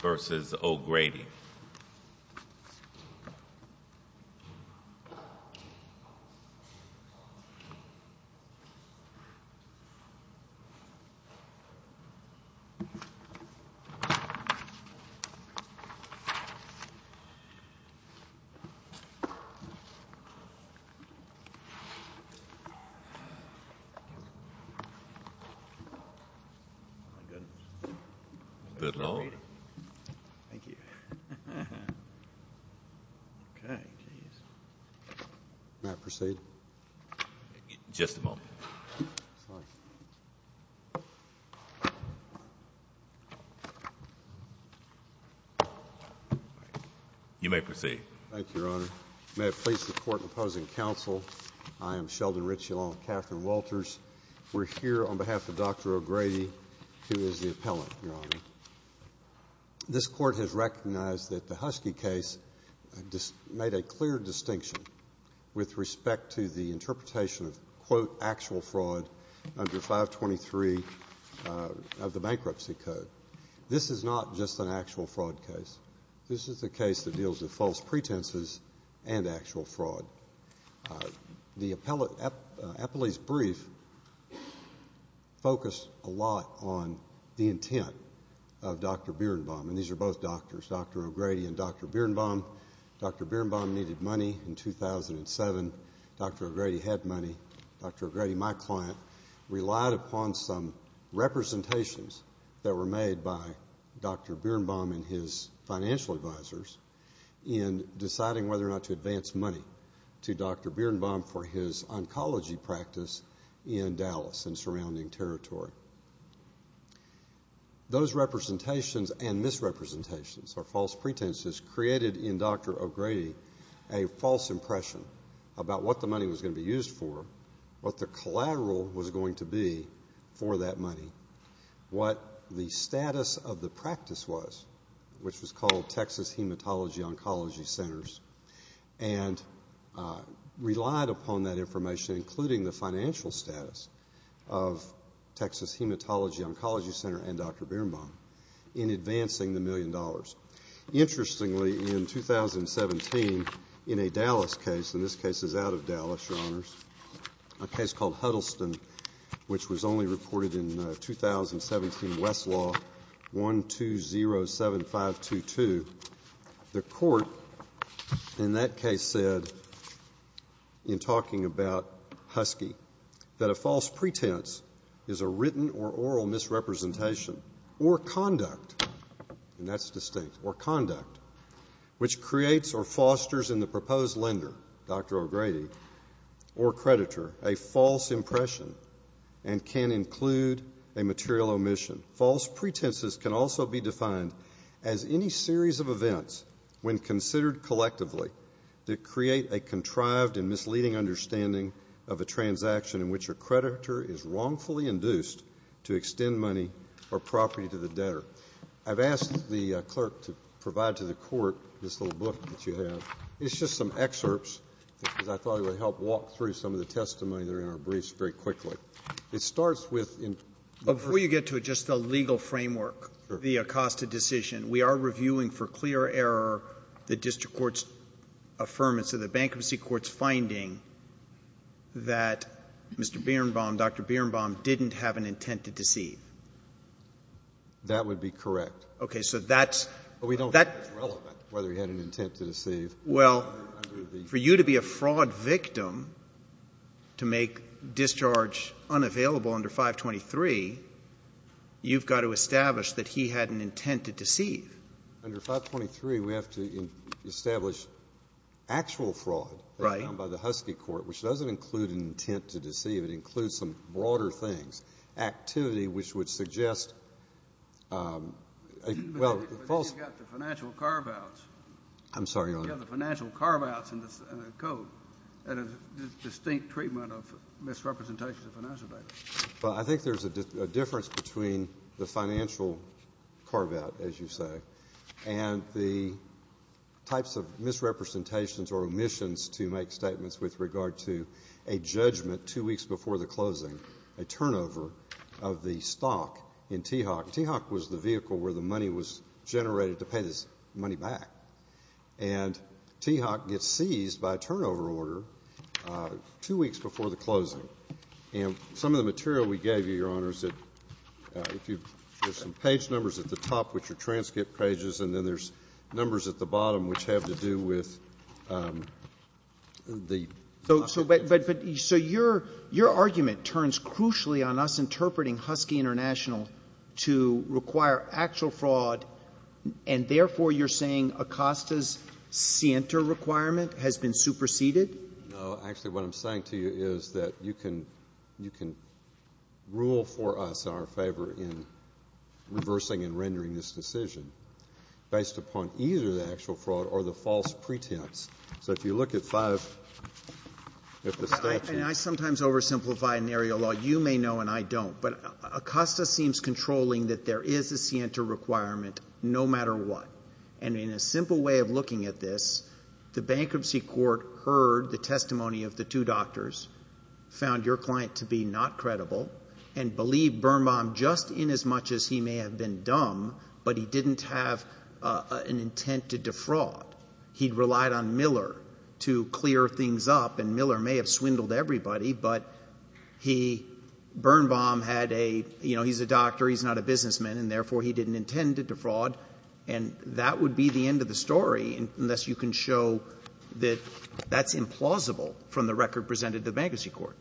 v. O'Grady May I proceed? Just a moment. You may proceed. Thank you, Your Honor. May I please report in opposing counsel. I am Sheldon Ritchie along with Katherine Walters. We're here on behalf of Dr. O'Grady, who is the appellant, Your Honor. This court has recognized that the Husky case made a clear distinction with respect to the interpretation of, quote, actual fraud under 523 of the Bankruptcy Code. This is not just an actual fraud case. This is a case that deals with false pretenses and actual fraud. The appellee's brief focused a lot on the intent of Dr. Birenbaum. And these are both doctors, Dr. O'Grady and Dr. Birenbaum. Dr. Birenbaum needed money in 2007. Dr. O'Grady had money. Dr. O'Grady, my client, relied upon some representations that were made by Dr. Birenbaum and his financial advisors in deciding whether or not to advance money to Dr. Birenbaum for his oncology practice in Dallas and surrounding territory. Those representations and misrepresentations or false pretenses created in Dr. O'Grady a false impression about what the money was going to be used for, what the collateral was going to be for that money, what the status of the practice was, which was called Texas Hematology Oncology Centers, and relied upon that information, including the financial status of Texas Hematology Oncology Center and Dr. Birenbaum, in advancing the million dollars. Interestingly, in 2017, in a Dallas case, and this case is out of Dallas, Your Honors, a case called Huddleston, which was only reported in 2017 Westlaw 1207522, the court in that case said, in talking about Husky, that a false pretense is a written or oral misrepresentation or conduct, and that's distinct, or conduct, which creates or fosters in the proposed lender, Dr. O'Grady, or creditor, a false impression and can include a material omission. False pretenses can also be defined as any series of events, when considered collectively, that create a contrived and misleading understanding of a transaction in which a creditor is wrongfully induced to extend money or property to the debtor. I've asked the clerk to provide to the court this little book that you have. It's just some excerpts, because I thought it would help walk through some of the testimony that are in our briefs very quickly. It starts with, in... Before you get to it, just the legal framework, the Acosta decision. We are reviewing for clear error the district court's affirmance of the bankruptcy court's finding that Mr. Birenbaum, Dr. Birenbaum, didn't have an intent to deceive. That would be correct. Okay, so that's... But we don't think it's relevant, whether he had an intent to deceive. Well, for you to be a fraud victim, to make discharge unavailable under 523, you've got to establish that he had an intent to deceive. Under 523, we have to establish actual fraud... Right.... done by the Husky court, which doesn't include an intent to deceive. It includes some broader things. Activity, which would suggest... But you've got the financial carve-outs... I'm sorry, Your Honor. You've got the financial carve-outs in the code, and a distinct treatment of misrepresentations of financial data. Well, I think there's a difference between the financial carve-out, as you say, and the types of misrepresentations or omissions to make statements with regard to a judgment two weeks before the closing, a turnover of the stock in TEOC. TEOC was the vehicle where the money was generated to pay this money back. And TEOC gets seized by a turnover order two weeks before the closing. And some of the material we gave you, Your Honor, is that if you... there's some page numbers at the top, which are transcript pages, and then there's numbers at the bottom, which have to do with the... So your argument turns crucially on us interpreting Husky International to require actual fraud, and therefore you're saying Acosta's scienter requirement has been superseded? No. Actually, what I'm saying to you is that you can rule for us in our favor in reversing and rendering this decision based upon either the actual fraud or the false pretense. So if you look at 5... And I sometimes oversimplify in area law. You may know and I don't, but Acosta seems controlling that there is a scienter requirement no matter what. And in a simple way of looking at this, the bankruptcy court heard the testimony of the two doctors, found your client to be not credible, and believed Birnbaum just inasmuch as he may have been dumb, but he didn't have an intent to defraud. He'd relied on Miller to clear things up, and Miller may have swindled everybody, but he... Birnbaum had a... you know, he's a doctor, he's not a businessman, and therefore he didn't intend to defraud. And that would be the end of the story, unless you can show that that's implausible from the record presented to the bankruptcy court.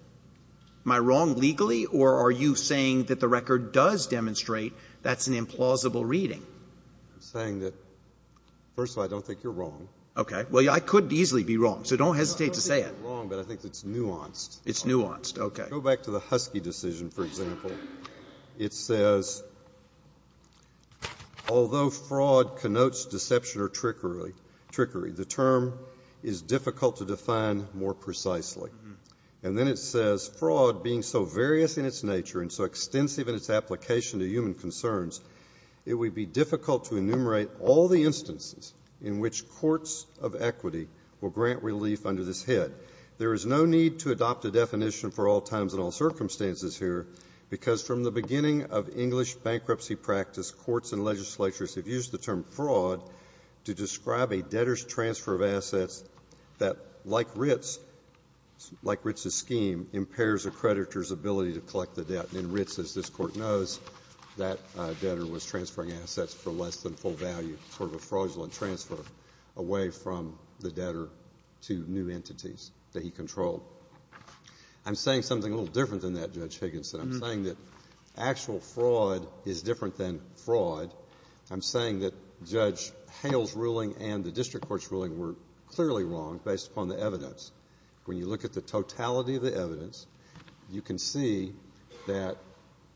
Am I wrong legally, or are you saying that the record does demonstrate that's an implausible reading? I'm saying that, first of all, I don't think you're wrong. Okay. Well, I could easily be wrong, so don't hesitate to say it. I don't think you're wrong, but I think it's nuanced. It's nuanced. Okay. Go back to the Husky decision, for example. It says, although fraud connotes deception or trickery, the term is difficult to define more precisely. And then it says, fraud being so various in its nature and so extensive in its application to human concerns, it would be difficult to enumerate all the instances in which courts of equity will grant relief under this head. There is no need to adopt a definition for all times and all circumstances here, because from the beginning of English bankruptcy practice, courts and legislatures have used the term fraud to describe a debtor's transfer of assets that, like writs, like writs of scheme, impairs a creditor's ability to collect the debt. And in writs, as this Court knows, that debtor was transferring assets for less than full value, sort of a fraudulent transfer away from the debtor to new entities that he controlled. I'm saying something a little different than that, Judge Higginson. I'm saying that actual fraud is different than fraud. I'm saying that Judge Hale's ruling and the district court's ruling were clearly wrong based upon the evidence. When you look at the totality of the evidence, you can see that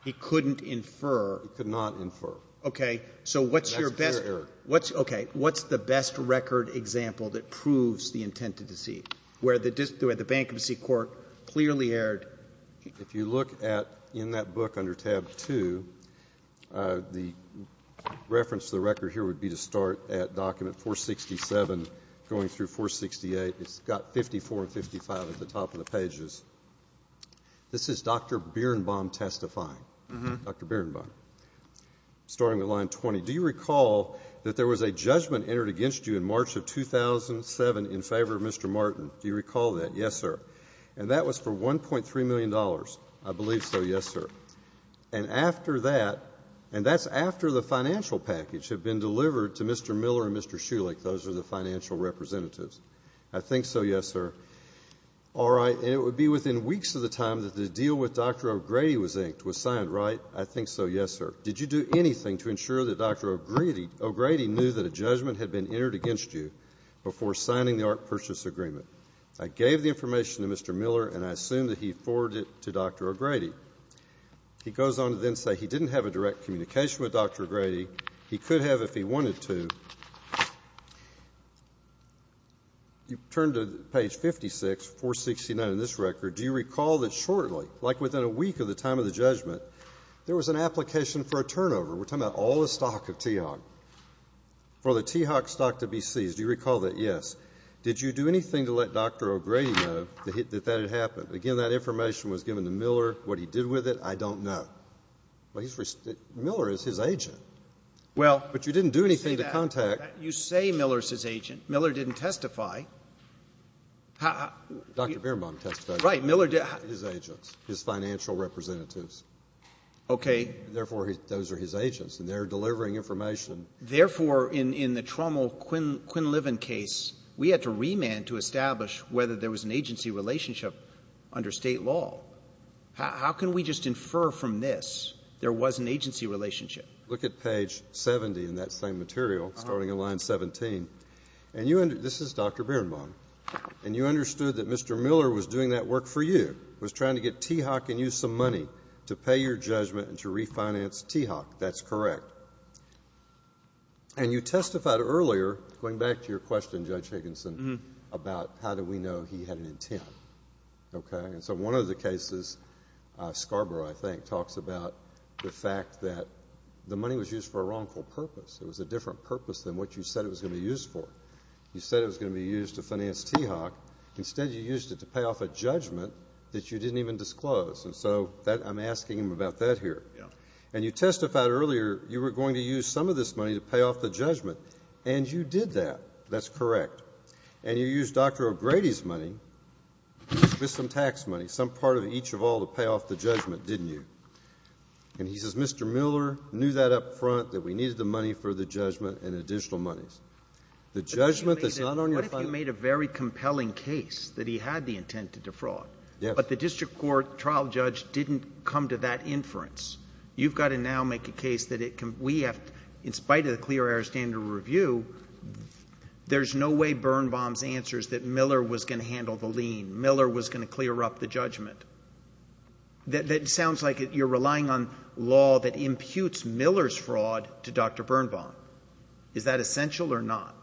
he couldn't infer. He could not infer. Okay. So what's your best — And that's clear error. What's — okay. What's the best record example that proves the intent to deceive, where the bankruptcy court clearly erred? If you look at — in that book under tab 2, the reference to the record here would be to start at document 467 going through 468. It's got 54 and 55 at the top of the pages. This is Dr. Birnbaum testifying. Dr. Birnbaum. Starting with line 20, do you recall that there was a judgment entered against you in March of 2007 in favor of Mr. Martin? Do you recall that? Yes, sir. And that was for $1.3 million, I believe so, yes, sir. And after that — and that's after the financial package had been delivered to Mr. Miller and Mr. Schulich. Those are the financial representatives. I think so, yes, sir. All right. And it would be within weeks of the time that the deal with Dr. O'Grady was inked, was signed, right? I think so, yes, sir. Did you do anything to ensure that Dr. O'Grady knew that a judgment had been entered against you before signing the art purchase agreement? I gave the information to Mr. Miller, and I assume that he forwarded it to Dr. O'Grady. He goes on to then say he didn't have a direct communication with Dr. O'Grady. He could have if he wanted to. You turn to page 56, 469 in this record. Do you recall that shortly, like within a week of the time of the judgment, there was an application for a turnover — we're talking about all the stock of TEOC — for the TEOC stock to be seized? Do you recall that? Yes. Did you do anything to let Dr. O'Grady know that that had happened? Again, that information was given to Miller. What he did with it, I don't know. Well, he's — Miller is his agent. Well — But you didn't do anything to contact — You say Miller's his agent. Miller didn't testify. How — Dr. Birnbaum testified. Right. Miller did — His agents. His financial representatives. Okay. Therefore, those are his agents, and they're delivering information. Therefore, in the Trommel-Quinn-Liven case, we had to remand to establish whether there was an agency relationship under State law. How can we just infer from this there was an agency relationship? Look at page 70 in that same material, starting in line 17. And you — this is Dr. Birnbaum. And you understood that Mr. Miller was doing that work for you, was trying to get TEOC and you some money to pay your judgment and to refinance TEOC. That's correct. And you testified earlier, going back to your question, Judge Higginson, about how do we know he had an intent. Okay? And so one of the cases, Scarborough, I think, talks about the fact that the money was used for a wrongful purpose. It was a different purpose than what you said it was going to be used for. You said it was going to be used to finance TEOC. Instead, you used it to pay off a judgment that you didn't even disclose. And so that — I'm asking him about that here. Yeah. And you testified earlier you were going to use some of this money to pay off the judgment. And you did that. That's correct. And you used Dr. O'Grady's money, just some tax money, some part of each of all to pay off the judgment, didn't you? And he says Mr. Miller knew that up front, that we needed the money for the judgment and additional monies. The judgment that's not on your — But what if you made a very compelling case that he had the intent to defraud? Yes. But the district court trial judge didn't come to that inference. You've got to now make a case that it — we have — in spite of the clear air standard review, there's no way Birnbaum's answer is that Miller was going to handle the lien. Miller was going to clear up the judgment. That sounds like you're relying on law that imputes Miller's fraud to Dr. Birnbaum. Is that essential or not?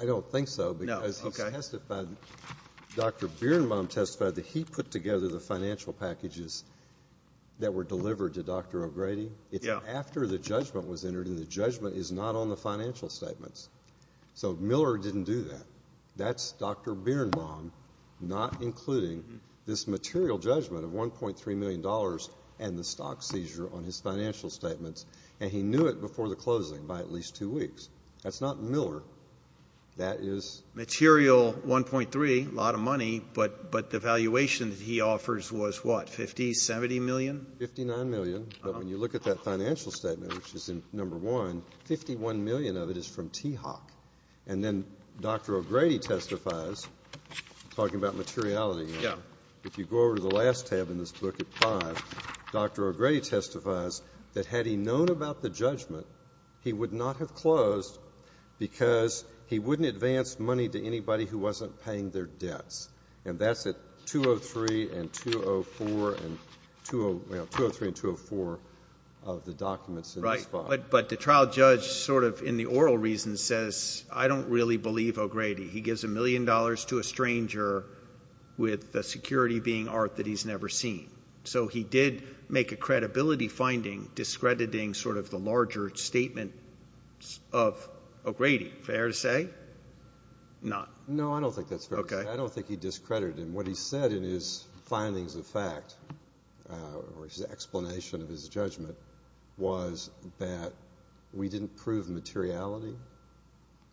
I don't think so. No. OK. Because he testified — Dr. Birnbaum testified that he put together the financial packages that were delivered to Dr. O'Grady. Yeah. But after the judgment was entered in, the judgment is not on the financial statements. So Miller didn't do that. That's Dr. Birnbaum not including this material judgment of $1.3 million and the stock seizure on his financial statements, and he knew it before the closing by at least two weeks. That's not Miller. That is — Material 1.3, a lot of money, but the valuation that he offers was what, 50, 70 million? 59 million. But when you look at that financial statement, which is in No. 1, 51 million of it is from Teahawk. And then Dr. O'Grady testifies, talking about materiality, if you go over to the last tab in this book at 5, Dr. O'Grady testifies that had he known about the judgment, he would not have closed because he wouldn't advance money to anybody who wasn't paying their debts. And that's at 203 and 204, you know, 203 and 204 of the documents in this file. But the trial judge sort of in the oral reason says, I don't really believe O'Grady. He gives a million dollars to a stranger with the security being art that he's never seen. So he did make a credibility finding discrediting sort of the larger statement of O'Grady. Fair to say? Not. No, I don't think that's fair to say. Okay. I don't think he discredited him. What he said in his findings of fact, or his explanation of his judgment, was that we didn't prove materiality.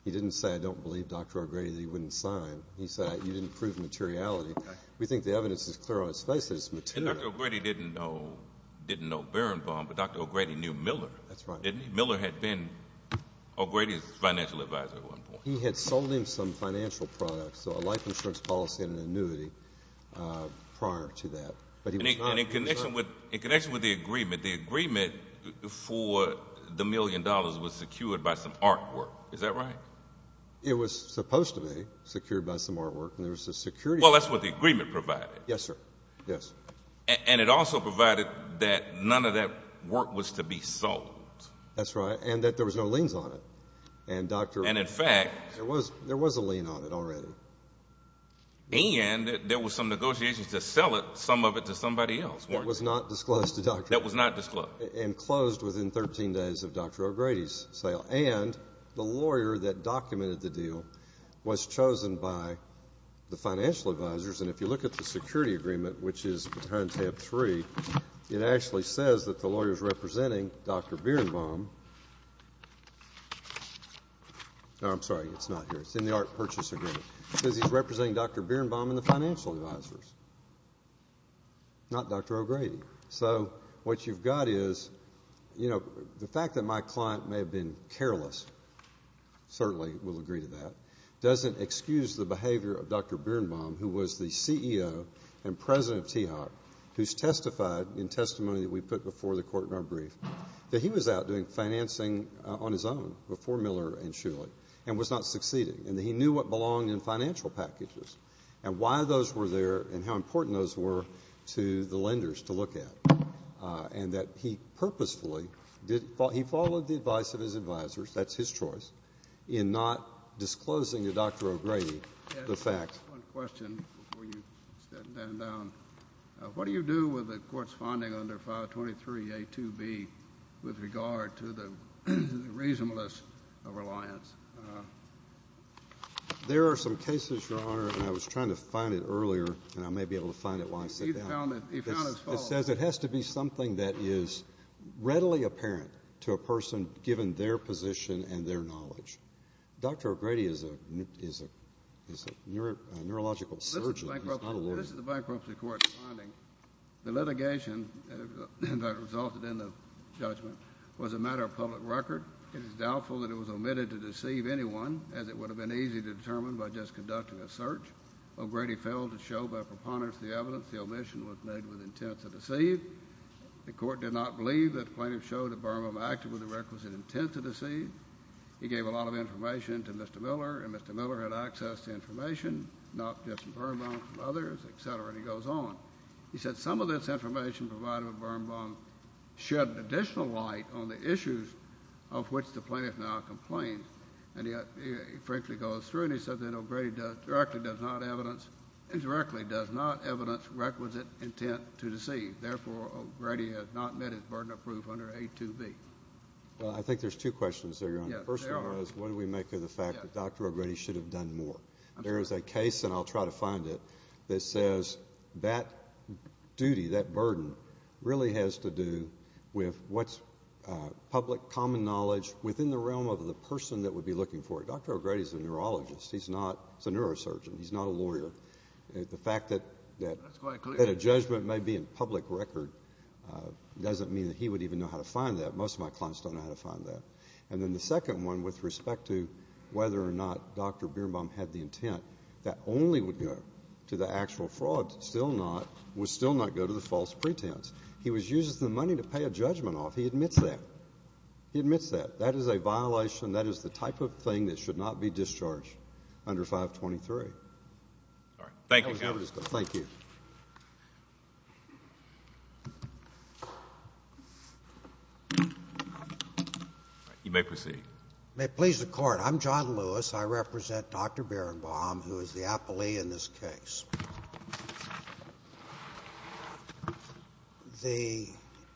He didn't say, I don't believe Dr. O'Grady that he wouldn't sign. He said, you didn't prove materiality. We think the evidence is clear on his face that it's material. And Dr. O'Grady didn't know Barenboim, but Dr. O'Grady knew Miller. That's right. Didn't he? Miller had been O'Grady's financial advisor at one point. He had sold him some financial products, so a life insurance policy and an annuity prior to that. And in connection with the agreement, the agreement for the million dollars was secured by some artwork. Is that right? It was supposed to be secured by some artwork, and there was a security. Well, that's what the agreement provided. Yes, sir. Yes. And it also provided that none of that work was to be sold. That's right. And that there was no liens on it. And in fact, there was a lien on it already. And there was some negotiations to sell some of it to somebody else, weren't there? It was not disclosed to Dr. O'Grady. It was not disclosed. And closed within 13 days of Dr. O'Grady's sale. And the lawyer that documented the deal was chosen by the financial advisors. And if you look at the security agreement, which is behind tab three, it actually says that the lawyer is representing Dr. Bierenbaum. No, I'm sorry. It's not here. It's in the art purchase agreement. It says he's representing Dr. Bierenbaum and the financial advisors, not Dr. O'Grady. So what you've got is, you know, the fact that my client may have been careless, certainly will agree to that, doesn't excuse the behavior of Dr. Bierenbaum, who was the CEO and president of TEOC, who's testified in testimony that we put before the court in our brief, that he was out doing financing on his own before Miller and Shulich, and was not succeeding. And that he knew what belonged in financial packages, and why those were there, and how important those were to the lenders to look at. And that he purposefully did — he followed the advice of his advisors, that's his choice, in not disclosing to Dr. O'Grady the fact — I have one question before you step down. What do you do with the court's finding under 523A2B with regard to the reasonableness of reliance? There are some cases, Your Honor, and I was trying to find it earlier, and I may be able to find it while I sit down. He found it. He found it false. It says it has to be something that is readily apparent to a person, given their position and their knowledge. Dr. O'Grady is a neurological surgeon. He's not a lawyer. This is a bankruptcy court finding. The litigation that resulted in the judgment was a matter of public record. It is doubtful that it was omitted to deceive anyone, as it would have been easy to determine by just conducting a search. O'Grady failed to show by preponderance the evidence the omission was made with intent to deceive. The court did not believe that the plaintiff showed that Burma acted with a requisite intent to deceive. He gave a lot of information to Mr. Miller, and Mr. Miller had access to information, not just from Burma, from others, et cetera, and he goes on. He said some of this information provided by Burma shed additional light on the issues of which the plaintiff now complained, and he frankly goes through and he says that O'Grady directly does not evidence requisite intent to deceive. Therefore, O'Grady has not met his burden of proof under A2B. Well, I think there's two questions there, Your Honor. The first one is, what do we make of the fact that Dr. O'Grady should have done more? There is a case, and I'll try to find it, that says that duty, that burden, really has to do with what's public common knowledge within the realm of the person that would be looking for it. Dr. O'Grady is a neurologist. He's not a neurosurgeon. He's not a lawyer. The fact that a judgment may be in public record doesn't mean that he would even know how to find that. Most of my clients don't know how to find that. And then the second one, with respect to whether or not Dr. Birnbaum had the intent, that only would go to the actual fraud, still not, would still not go to the false pretense. He was using the money to pay a judgment off. He admits that. He admits that. That is a violation. That is the type of thing that should not be discharged under 523. All right. Thank you, Your Honor. Thank you. All right. You may proceed. You may please the Court. I'm John Lewis. I represent Dr. Birnbaum, who is the appellee in this case. The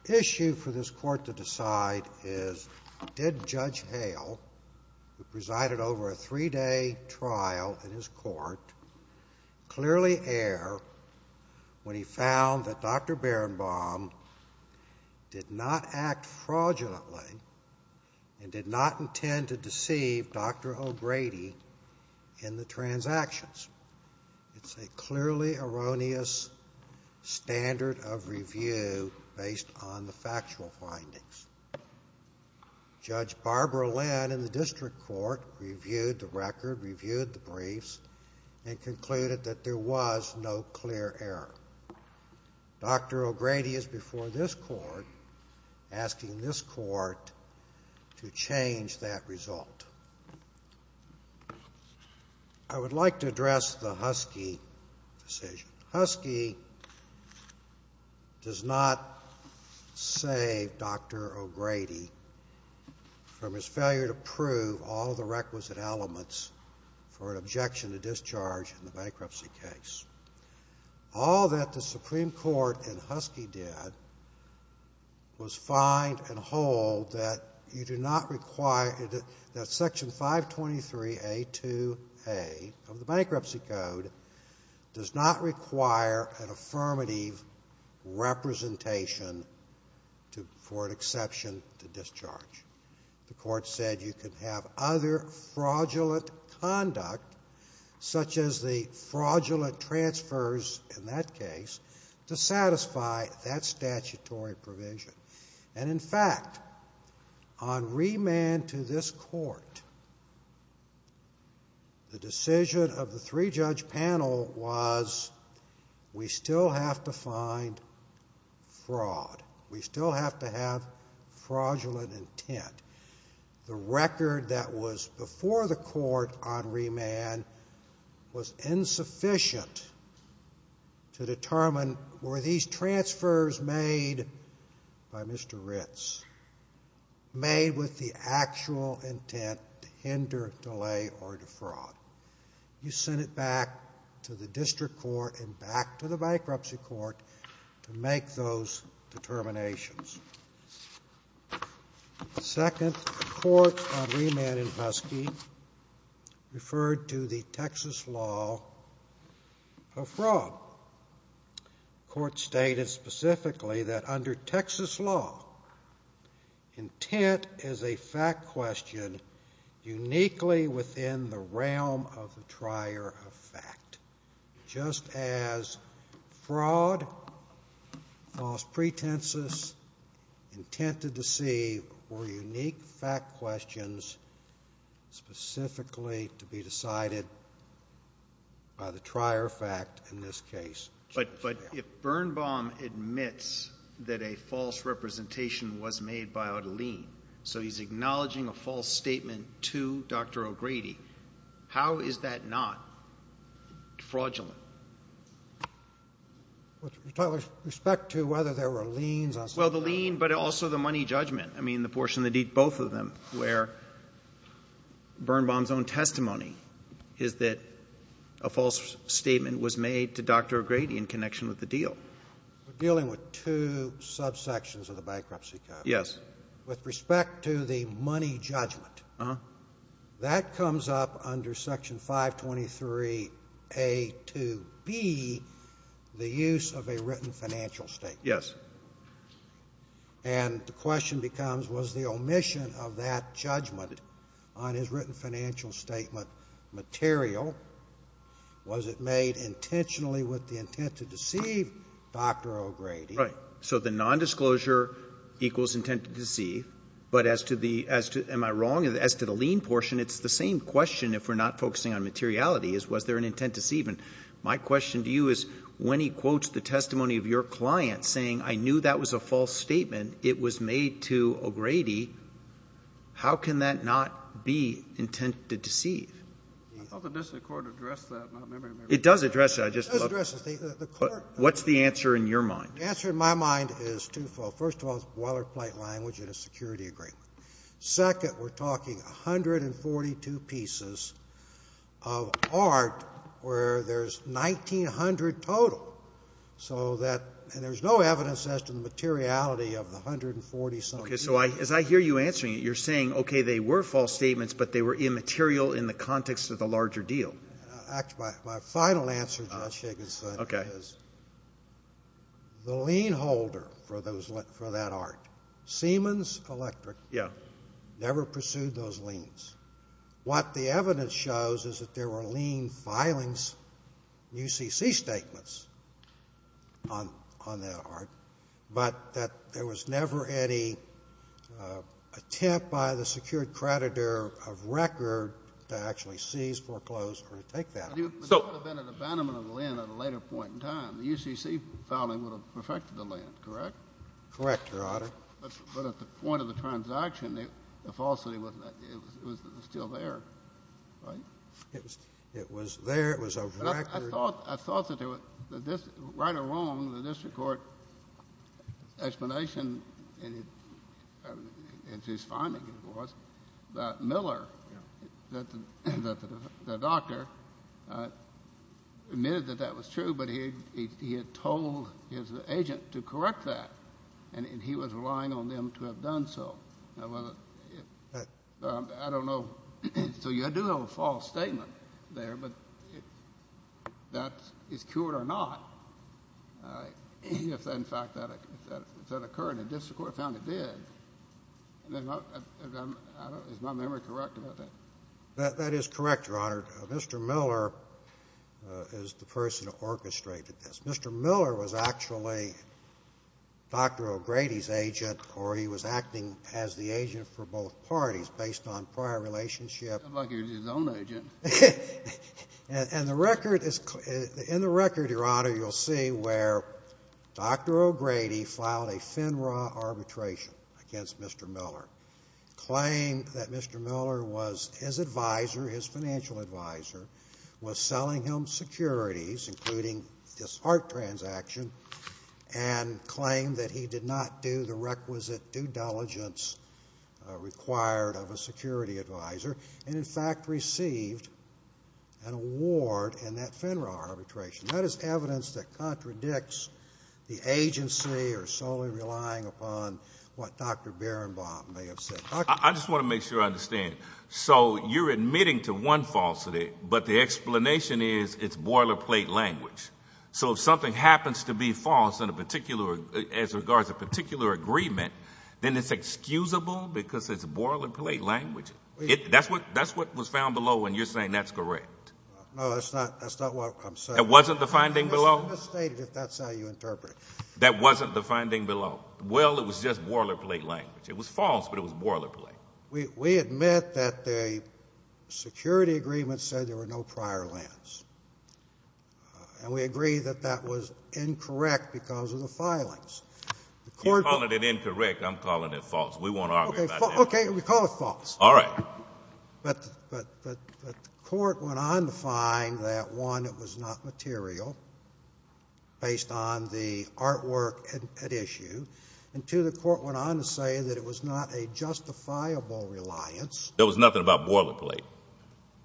issue for this Court to decide is, did Judge Hale, who presided over a three-day trial in his court, clearly err when he found that Dr. Birnbaum did not act fraudulently and did not intend to deceive Dr. O'Grady in the transactions? It's a clearly erroneous standard of review based on the factual findings. Judge Barbara Lynn in the District Court reviewed the record, reviewed the briefs, and concluded that there was no clear error. Dr. O'Grady is before this Court asking this Court to change that result. I would like to address the Husky decision. Husky does not save Dr. O'Grady from his failure to prove all the requisite elements for an objection to discharge in the bankruptcy case. All that the Supreme Court in Husky did was find and hold that you do not require that Section 523A2A of the Bankruptcy Code does not require an affirmative representation for an exception to discharge. The Court said you could have other fraudulent conduct, such as the fraudulent transfers in that case, to satisfy that statutory provision. And in fact, on remand to this Court, the decision of the three-judge panel was, we still have to find fraud. We still have to have fraudulent intent. The record that was before the Court on remand was insufficient to determine, were these transfers made by Mr. Ritz, made with the actual intent to hinder, delay, or defraud? You send it back to the District Court and back to the Bankruptcy Court to make those determinations. The second Court on remand in Husky referred to the Texas law of fraud. The Court stated specifically that under Texas law, intent is a fact question uniquely within the realm of the trier of fact, just as fraud, false pretenses, intent to deceive, were unique fact questions specifically to be decided by the trier of fact in this case. But if Birnbaum admits that a false representation was made by Odellene, so he's acknowledging a false statement to Dr. O'Grady, how is that not fraudulent? With respect to whether there were liens on some of it? Well, the lien, but also the money judgment, I mean, the portion that did both of them, where Birnbaum's own testimony is that a false statement was made to Dr. O'Grady in connection with the deal. We're dealing with two subsections of the bankruptcy case. With respect to the money judgment, that comes up under Section 523A to B, the use of a written financial statement. Yes. And the question becomes, was the omission of that judgment on his written financial statement material? Was it made intentionally with the intent to deceive Dr. O'Grady? Right. So the nondisclosure equals intent to deceive. But as to the — am I wrong? As to the lien portion, it's the same question, if we're not focusing on materiality, is was there an intent to deceive. And my question to you is, when he quotes the testimony of your client saying, I knew that was a false statement, it was made to O'Grady, how can that not be intent to deceive? I thought the district court addressed that in my memory. It does address that. It does address it. What's the answer in your mind? The answer in my mind is twofold. First of all, it's boilerplate language in a security agreement. Second, we're talking 142 pieces of art where there's 1,900 total. So that — and there's no evidence as to the materiality of the 140-something pieces. Okay. So as I hear you answering it, you're saying, okay, they were false statements, but they were immaterial in the context of the larger deal. Actually, my final answer, Judge Shigginson, is the lien holder for that art, Siemens Electric, never pursued those liens. What the evidence shows is that there were lien filings, UCC statements, on that art, but that there was never any attempt by the secured creditor of record to actually seize, foreclose, or take that art. But there would have been an abandonment of the lien at a later point in time. The UCC filing would have perfected the lien, correct? Correct, Your Honor. But at the point of the transaction, the falsity was still there, right? It was there. It was of record. I thought that there was — right or wrong, the district court explanation, as his finding was, that Miller, the doctor, admitted that that was true, but he had told his agent to correct that, and he was relying on them to have done so. I don't know. So you do have a false statement there, but that is cured or not. If, in fact, that occurred and the district court found it did, is my memory correct about that? That is correct, Your Honor. Mr. Miller is the person who orchestrated this. Mr. Miller was actually Dr. O'Grady's agent, or he was acting as the agent for both parties based on prior relationship. It looked like he was his own agent. And the record is — in the record, Your Honor, you'll see where Dr. O'Grady filed a FINRA arbitration against Mr. Miller, claimed that Mr. Miller was his advisor, his financial advisor, was selling him securities, including this art transaction, and claimed that he did not do the requisite due diligence required of a security advisor, and, in fact, received an award in that FINRA arbitration. That is evidence that contradicts the agency or solely relying upon what Dr. Bierenbaum may have said. I just want to make sure I understand. So you're admitting to one falsity, but the explanation is it's boilerplate language. So if something happens to be false in a particular — as regards a particular agreement, then it's excusable because it's boilerplate language. That's what was found below when you're saying that's correct. No, that's not what I'm saying. That wasn't the finding below? That's how you interpret it. That wasn't the finding below? Well, it was just boilerplate language. It was false, but it was boilerplate. We admit that the security agreement said there were no prior lands. And we agree that that was incorrect because of the filings. You're calling it incorrect. I'm calling it false. We won't argue about that. Okay. We call it false. All right. But the court went on to find that, one, it was not material based on the artwork at issue. And, two, the court went on to say that it was not a justifiable reliance. There was nothing about boilerplate,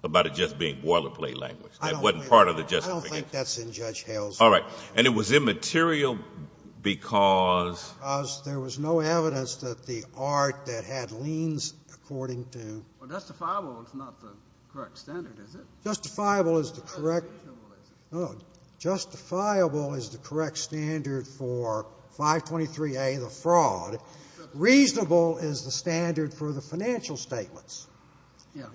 about it just being boilerplate language. That wasn't part of the justification. I don't think that's in Judge Hale's — All right. And it was immaterial because — Because there was no evidence that the art that had liens according to — Well, justifiable is not the correct standard, is it? Justifiable is the correct — Not justifiable, is it? No. Justifiable is the correct standard for 523A, the fraud. Reasonable is the standard for the financial statements. Yeah.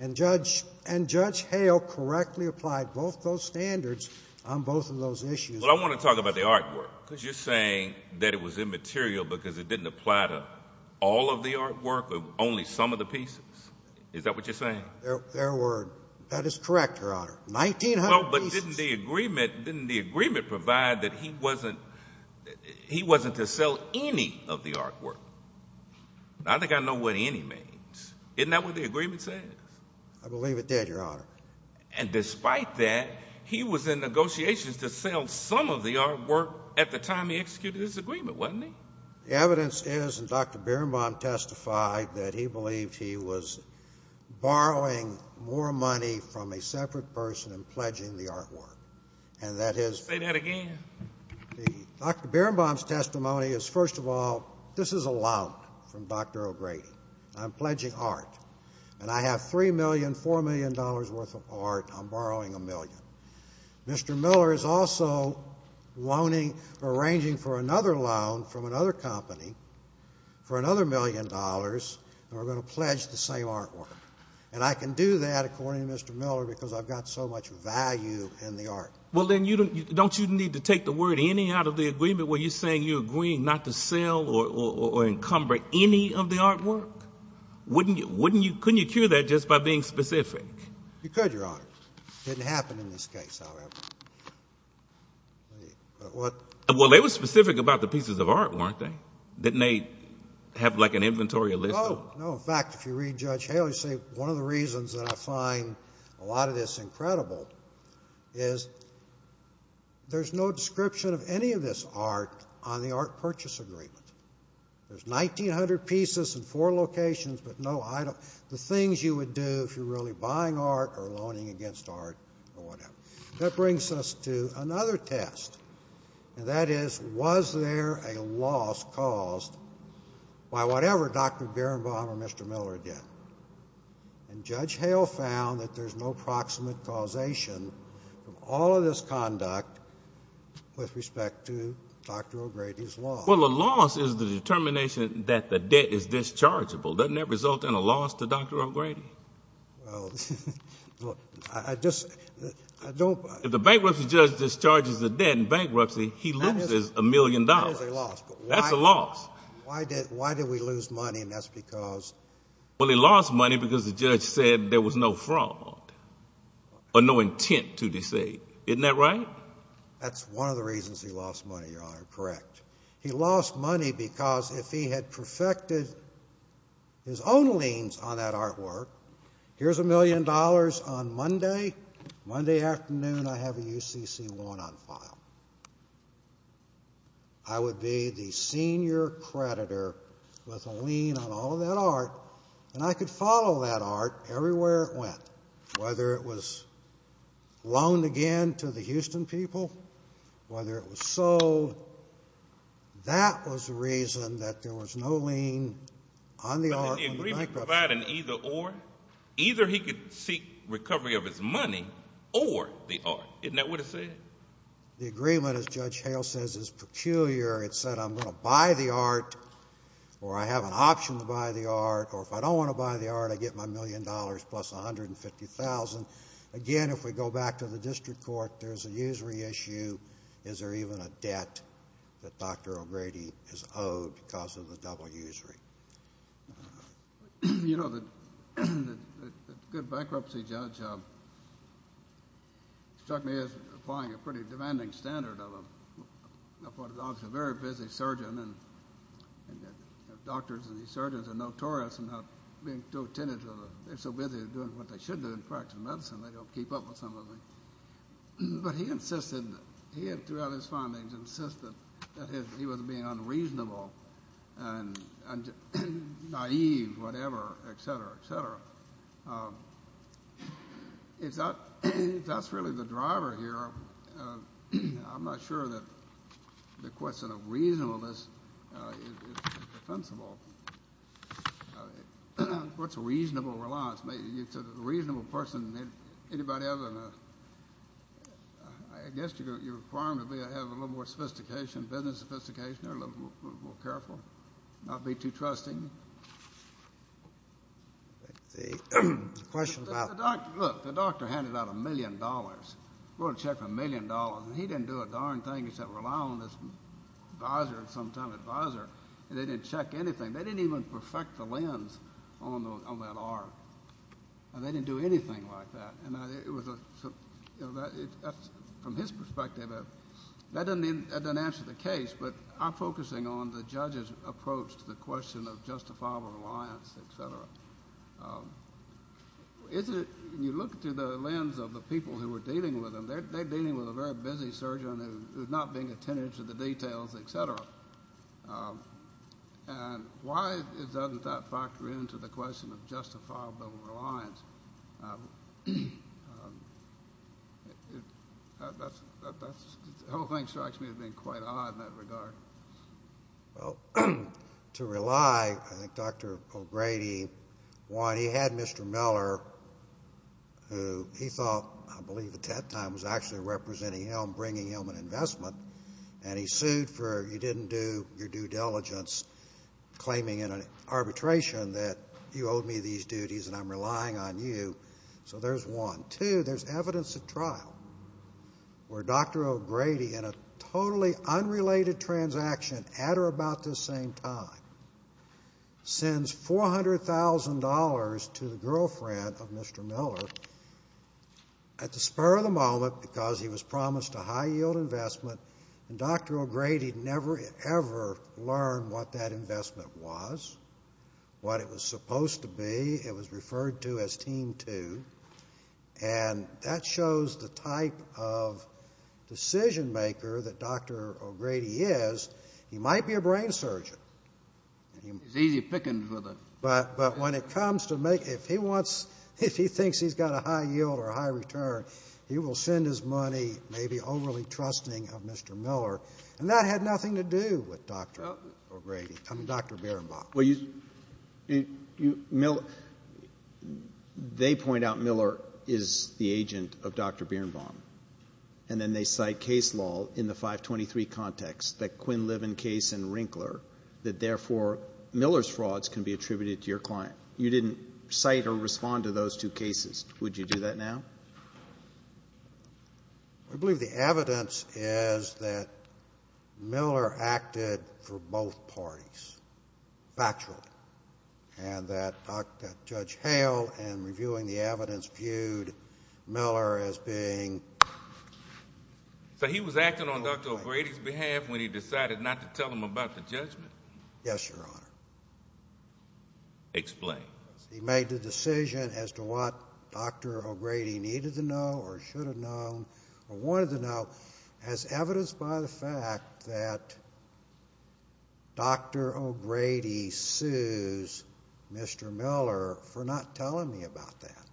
And Judge Hale correctly applied both those standards on both of those issues. Well, I want to talk about the artwork because you're saying that it was immaterial because it didn't apply to all of the artwork or only some of the pieces. Is that what you're saying? Fair word. That is correct, Your Honor. 1,900 pieces. Well, but didn't the agreement provide that he wasn't to sell any of the artwork? I think I know what any means. Isn't that what the agreement says? I believe it did, Your Honor. And despite that, he was in negotiations to sell some of the artwork at the time he executed his agreement, wasn't he? The evidence is, and Dr. Birnbaum testified, that he believed he was borrowing more money from a separate person and pledging the artwork. And that his — Say that again. Dr. Birnbaum's testimony is, first of all, this is allowed from Dr. O'Grady. I'm pledging art. And I have $3 million, $4 million worth of art. I'm borrowing a million. Mr. Miller is also arranging for another loan from another company for another million dollars, and we're going to pledge the same artwork. And I can do that, according to Mr. Miller, because I've got so much value in the art. Well, then, don't you need to take the word any out of the agreement where you're saying you're agreeing not to sell or encumber any of the artwork? Couldn't you cure that just by being specific? You could, Your Honor. It didn't happen in this case, however. Well, they were specific about the pieces of art, weren't they? Didn't they have, like, an inventory list? No. No, in fact, if you read Judge Haley, see, one of the reasons that I find a lot of this incredible is there's no description of any of this art on the art purchase agreement. There's 1,900 pieces in four locations but no item. The things you would do if you're really buying art or loaning against art or whatever. That brings us to another test, and that is, was there a loss caused by whatever Dr. Berenbaum or Mr. Miller did? And Judge Hale found that there's no proximate causation of all of this conduct with respect to Dr. O'Grady's loss. Well, a loss is the determination that the debt is dischargeable. Doesn't that result in a loss to Dr. O'Grady? Well, I just, I don't. If the bankruptcy judge discharges the debt in bankruptcy, he loses a million dollars. That is a loss. That's a loss. Why did we lose money, and that's because? Well, he lost money because the judge said there was no fraud or no intent to deceive. Isn't that right? That's one of the reasons he lost money, Your Honor. Correct. He lost money because if he had perfected his own liens on that artwork, here's a million dollars on Monday. Monday afternoon, I have a UCC1 on file. I would be the senior creditor with a lien on all of that art, and I could follow that art everywhere it went, whether it was loaned again to the Houston people, whether it was sold. That was the reason that there was no lien on the art of the bankruptcy. But in the agreement providing either or, either he could seek recovery of his money or the art. Isn't that what it said? The agreement, as Judge Hale says, is peculiar. It said I'm going to buy the art, or I have an option to buy the art, or if I don't want to buy the art, I get my million dollars plus $150,000. Again, if we go back to the district court, there's a usury issue. Is there even a debt that Dr. O'Grady is owed because of the double usury? You know, the good bankruptcy judge struck me as applying a pretty demanding standard. He's a very busy surgeon, and doctors and surgeons are notorious for not being so attentive. They're so busy doing what they should do in practice of medicine, they don't keep up with some of it. But he insisted, throughout his findings, he insisted that he was being unreasonable and naive, whatever, et cetera, et cetera. If that's really the driver here, I'm not sure that the question of reasonableness is defensible. What's reasonable reliance? It's a reasonable person. Anybody else? I guess you're requiring me to have a little more sophistication, business sophistication, a little more careful, not be too trusting. The question about the doctor. Look, the doctor handed out a million dollars. We're going to check for a million dollars, and he didn't do a darn thing except rely on this advisor, sometime advisor, and they didn't check anything. They didn't even perfect the lens on that arc, and they didn't do anything like that. From his perspective, that doesn't answer the case, but I'm focusing on the judge's approach to the question of justifiable reliance, et cetera. When you look through the lens of the people who were dealing with him, they're dealing with a very busy surgeon who's not being attentive to the details, et cetera. And why doesn't that factor into the question of justifiable reliance? The whole thing strikes me as being quite odd in that regard. Well, to rely, I think Dr. O'Grady, one, he had Mr. Miller, who he thought I believe at that time was actually representing him, bringing him an investment, and he sued for you didn't do your due diligence, claiming in an arbitration that you owed me these duties and I'm relying on you. So there's one. Two, there's evidence at trial where Dr. O'Grady, in a totally unrelated transaction at or about this same time, sends $400,000 to the girlfriend of Mr. Miller at the spur of the moment because he was promised a high-yield investment, and Dr. O'Grady never ever learned what that investment was, what it was supposed to be. It was referred to as Team Two, and that shows the type of decision maker that Dr. O'Grady is. He might be a brain surgeon. He's easy pickings with it. But when it comes to making, if he wants, if he thinks he's got a high yield or a high return, he will send his money, maybe overly trusting of Mr. Miller, and that had nothing to do with Dr. O'Grady, I mean Dr. Bierenbaum. Well, you, you, Miller, they point out Miller is the agent of Dr. Bierenbaum, and then they cite case law in the 523 context, that Quinn-Liven case and Rinkler, that therefore Miller's frauds can be attributed to your client. You didn't cite or respond to those two cases. Would you do that now? I believe the evidence is that Miller acted for both parties, factually, and that Judge Hale, in reviewing the evidence, viewed Miller as being. So he was acting on Dr. O'Grady's behalf when he decided not to tell him about the judgment? Yes, Your Honor. Explain. He made the decision as to what Dr. O'Grady needed to know or should have known or wanted to know, as evidenced by the fact that Dr. O'Grady sues Mr. Miller for not telling me about that,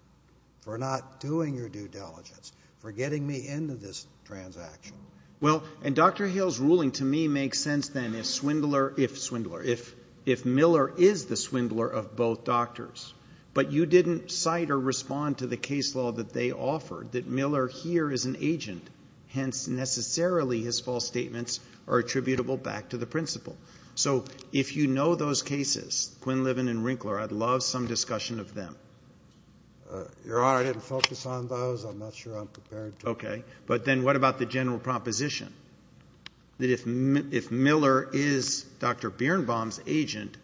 for not doing your due diligence, for getting me into this transaction. Well, and Dr. Hale's ruling to me makes sense then if Swindler, if Swindler, if Miller is the Swindler of both doctors, but you didn't cite or respond to the case law that they offered, that Miller here is an agent, hence necessarily his false statements are attributable back to the principal. So if you know those cases, Quinlivan and Rinkler, I'd love some discussion of them. Your Honor, I didn't focus on those. I'm not sure I'm prepared to. Okay. But then what about the general proposition that if Miller is Dr. Birnbaum's agent,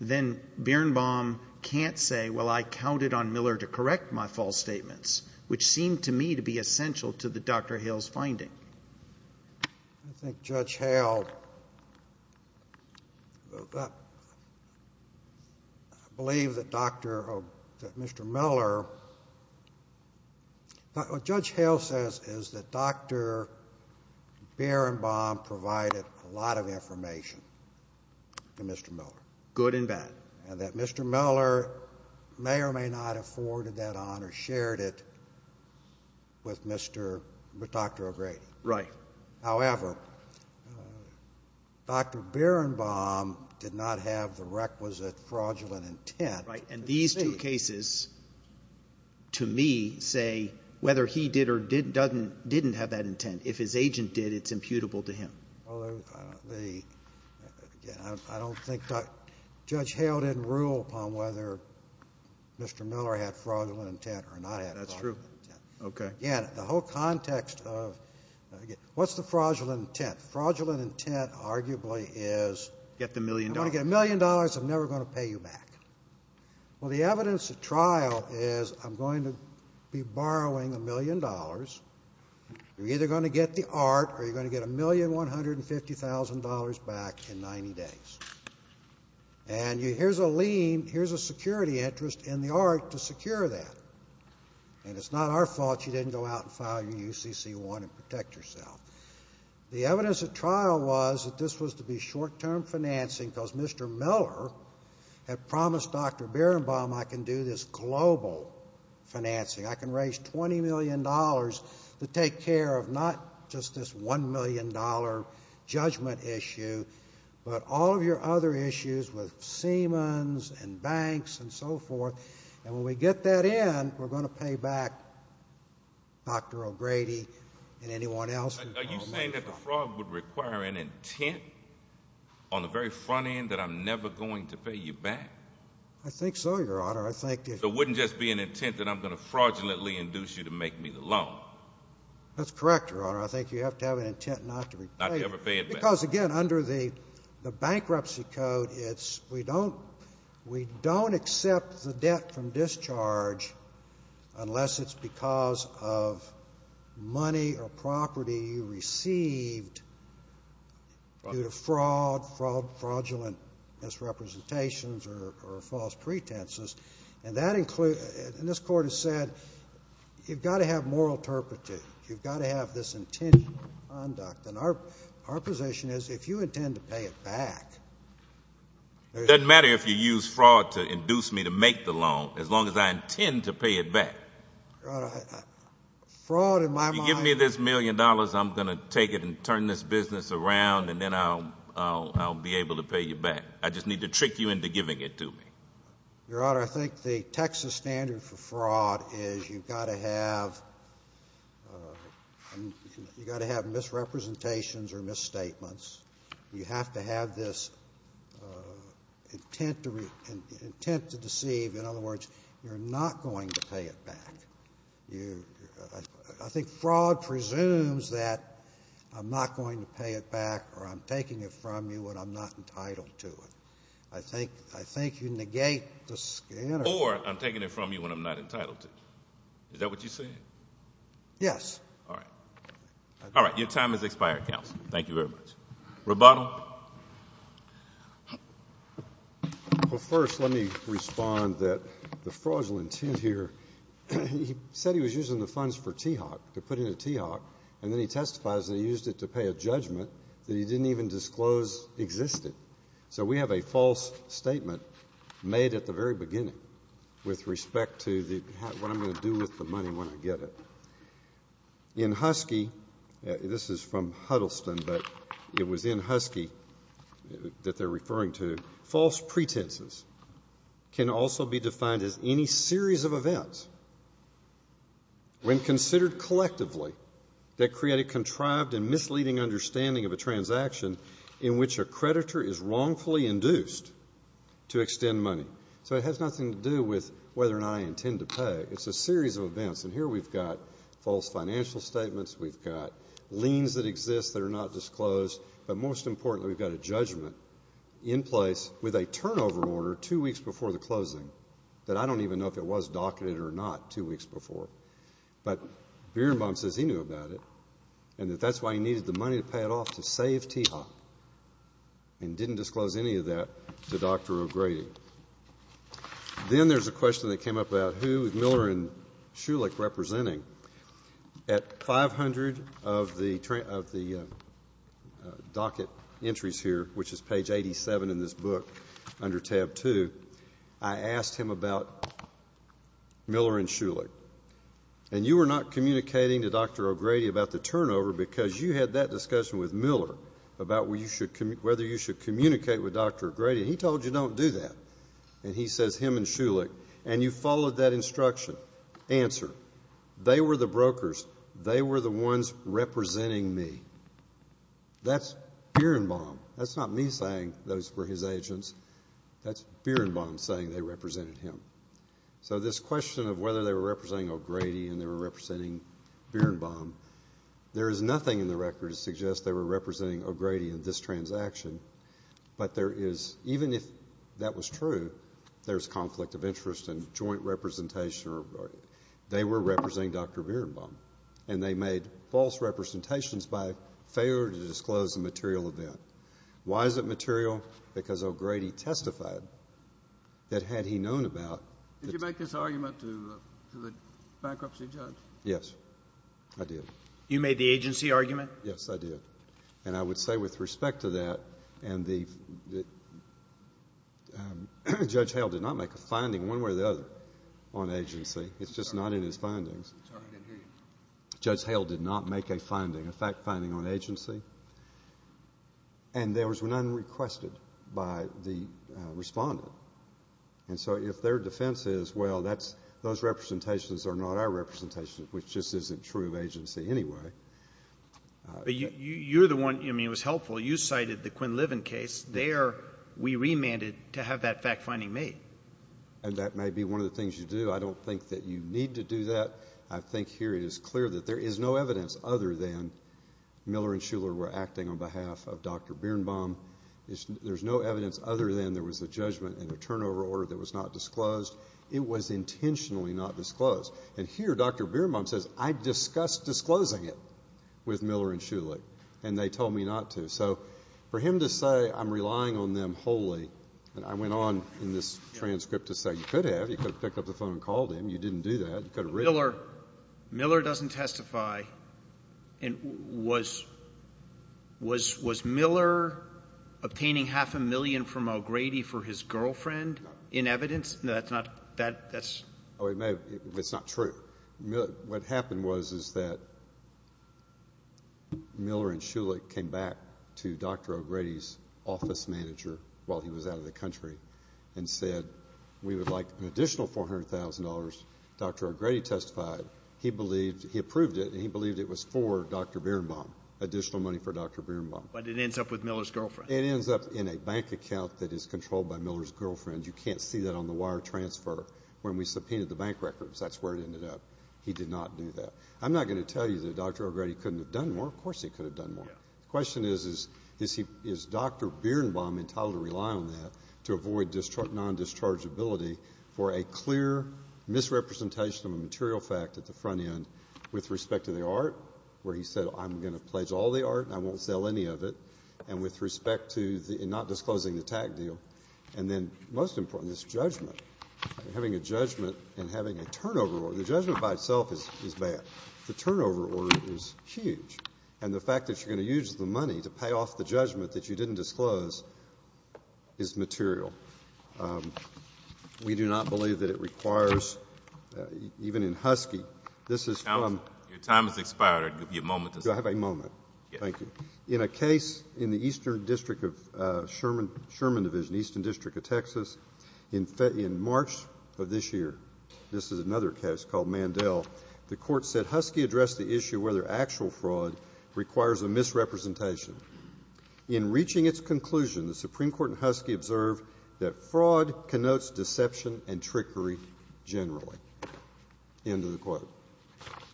then Birnbaum can't say, well, I counted on Miller to correct my false statements, which seemed to me to be essential to the Dr. Hale's finding. I think Judge Hale, I believe that Mr. Miller, what Judge Hale says is that Dr. Birnbaum provided a lot of information to Mr. Miller. Good and bad. And that Mr. Miller may or may not have forwarded that on or shared it with Dr. O'Grady. Right. However, Dr. Birnbaum did not have the requisite fraudulent intent. Right. And these two cases, to me, say whether he did or didn't have that intent. If his agent did, it's imputable to him. Well, again, I don't think Judge Hale didn't rule upon whether Mr. Miller had fraudulent intent or not had fraudulent intent. That's true. Okay. Again, the whole context of what's the fraudulent intent? Fraudulent intent arguably is I'm going to get a million dollars, I'm never going to pay you back. Well, the evidence at trial is I'm going to be borrowing a million dollars. You're either going to get the art or you're going to get $1,150,000 back in 90 days. And here's a lien, here's a security interest in the art to secure that. And it's not our fault you didn't go out and file your UCC-1 and protect yourself. The evidence at trial was that this was to be short-term financing because Mr. Miller had promised Dr. Birnbaum I can do this global financing. I can raise $20 million to take care of not just this $1 million judgment issue, but all of your other issues with Siemens and banks and so forth. And when we get that in, we're going to pay back Dr. O'Grady and anyone else. Are you saying that the fraud would require an intent on the very front end that I'm never going to pay you back? I think so, Your Honor. So it wouldn't just be an intent that I'm going to fraudulently induce you to make me the loan? That's correct, Your Honor. I think you have to have an intent not to repay it. Not to ever pay it back. Because, again, under the Bankruptcy Code, we don't accept the debt from discharge unless it's because of money or property you received due to fraud, fraudulent misrepresentations or false pretenses. And this Court has said you've got to have moral turpitude. You've got to have this intention to conduct. And our position is if you intend to pay it back — It doesn't matter if you use fraud to induce me to make the loan as long as I intend to pay it back. Your Honor, fraud in my mind — If you give me this million dollars, I'm going to take it and turn this business around, and then I'll be able to pay you back. I just need to trick you into giving it to me. Your Honor, I think the Texas standard for fraud is you've got to have misrepresentations or misstatements. You have to have this intent to deceive. In other words, you're not going to pay it back. I think fraud presumes that I'm not going to pay it back or I'm taking it from you and I'm not entitled to it. I think you negate the standard. Or I'm taking it from you and I'm not entitled to it. Is that what you're saying? Yes. All right. All right. Your time has expired, counsel. Thank you very much. Rebuttal? Well, first let me respond that the fraudulent intent here — He said he was using the funds for TEOC, to put in a TEOC, and then he testifies that he used it to pay a judgment that he didn't even disclose existed. So we have a false statement made at the very beginning with respect to what I'm going to do with the money when I get it. In Husky — this is from Huddleston, but it was in Husky that they're referring to — false pretenses can also be defined as any series of events when considered collectively that create a contrived and misleading understanding of a transaction in which a creditor is wrongfully induced to extend money. So it has nothing to do with whether or not I intend to pay. It's a series of events. And here we've got false financial statements, we've got liens that exist that are not disclosed, but most importantly we've got a judgment in place with a turnover order two weeks before the closing that I don't even know if it was docketed or not two weeks before. But Bierenbaum says he knew about it and that that's why he needed the money to pay it off to save TEOC and didn't disclose any of that to Dr. O'Grady. Then there's a question that came up about who is Miller and Shulick representing. At 500 of the docket entries here, which is page 87 in this book under tab two, I asked him about Miller and Shulick. And you were not communicating to Dr. O'Grady about the turnover because you had that discussion with Miller about whether you should communicate with Dr. O'Grady. He told you don't do that. And he says him and Shulick. And you followed that instruction. Answer. They were the brokers. They were the ones representing me. That's Bierenbaum. That's not me saying those were his agents. That's Bierenbaum saying they represented him. So this question of whether they were representing O'Grady and they were representing Bierenbaum, there is nothing in the record to suggest they were representing O'Grady in this transaction. But even if that was true, there's conflict of interest in joint representation or they were representing Dr. Bierenbaum. And they made false representations by failure to disclose the material event. Why is it material? Because O'Grady testified that had he known about it. Did you make this argument to the bankruptcy judge? Yes, I did. You made the agency argument? Yes, I did. And I would say with respect to that, Judge Hale did not make a finding one way or the other on agency. It's just not in his findings. Sorry, I didn't hear you. Judge Hale did not make a finding, a fact finding on agency. And there was none requested by the respondent. And so if their defense is, well, those representations are not our representations, which just isn't true of agency anyway. But you're the one, I mean, it was helpful. You cited the Quinn Liven case. There we remanded to have that fact finding made. And that may be one of the things you do. I don't think that you need to do that. I think here it is clear that there is no evidence other than Miller and Shuler were acting on behalf of Dr. Birnbaum. There's no evidence other than there was a judgment and a turnover order that was not disclosed. It was intentionally not disclosed. And here Dr. Birnbaum says, I discussed disclosing it with Miller and Shuler, and they told me not to. So for him to say I'm relying on them wholly, and I went on in this transcript to say you could have. You could have picked up the phone and called him. You didn't do that. Miller doesn't testify. And was Miller obtaining half a million from O'Grady for his girlfriend in evidence? No, that's not. It's not true. What happened was is that Miller and Shuler came back to Dr. O'Grady's office manager while he was out of the country and said we would like an additional $400,000. Dr. O'Grady testified he believed he approved it, and he believed it was for Dr. Birnbaum, additional money for Dr. Birnbaum. But it ends up with Miller's girlfriend. It ends up in a bank account that is controlled by Miller's girlfriend. You can't see that on the wire transfer when we subpoenaed the bank records. That's where it ended up. He did not do that. I'm not going to tell you that Dr. O'Grady couldn't have done more. Of course he could have done more. The question is, is Dr. Birnbaum entitled to rely on that to avoid non-dischargeability for a clear misrepresentation of a material fact at the front end with respect to the art, where he said I'm going to pledge all the art and I won't sell any of it, and with respect to not disclosing the tax deal. And then most important is judgment. Having a judgment and having a turnover order. The judgment by itself is bad. The turnover order is huge. And the fact that you're going to use the money to pay off the judgment that you didn't disclose is material. We do not believe that it requires, even in Husky, this is from. Your time has expired. You have a moment. Thank you. In a case in the Eastern District of Sherman Division, Eastern District of Texas, in March of this year, this is another case called Mandel, the court said Husky addressed the issue whether actual fraud requires a misrepresentation. In reaching its conclusion, the Supreme Court and Husky observed that fraud connotes deception and trickery generally. End of the quote.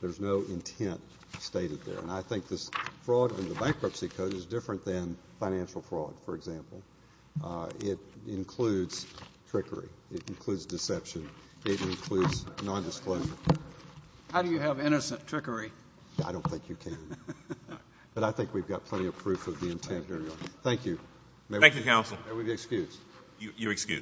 There's no intent stated there. And I think this fraud in the bankruptcy code is different than financial fraud, for example. It includes trickery. It includes deception. It includes nondisclosure. How do you have innocent trickery? I don't think you can. But I think we've got plenty of proof of the intent here. Thank you. Thank you, counsel. May we be excused? You're excused.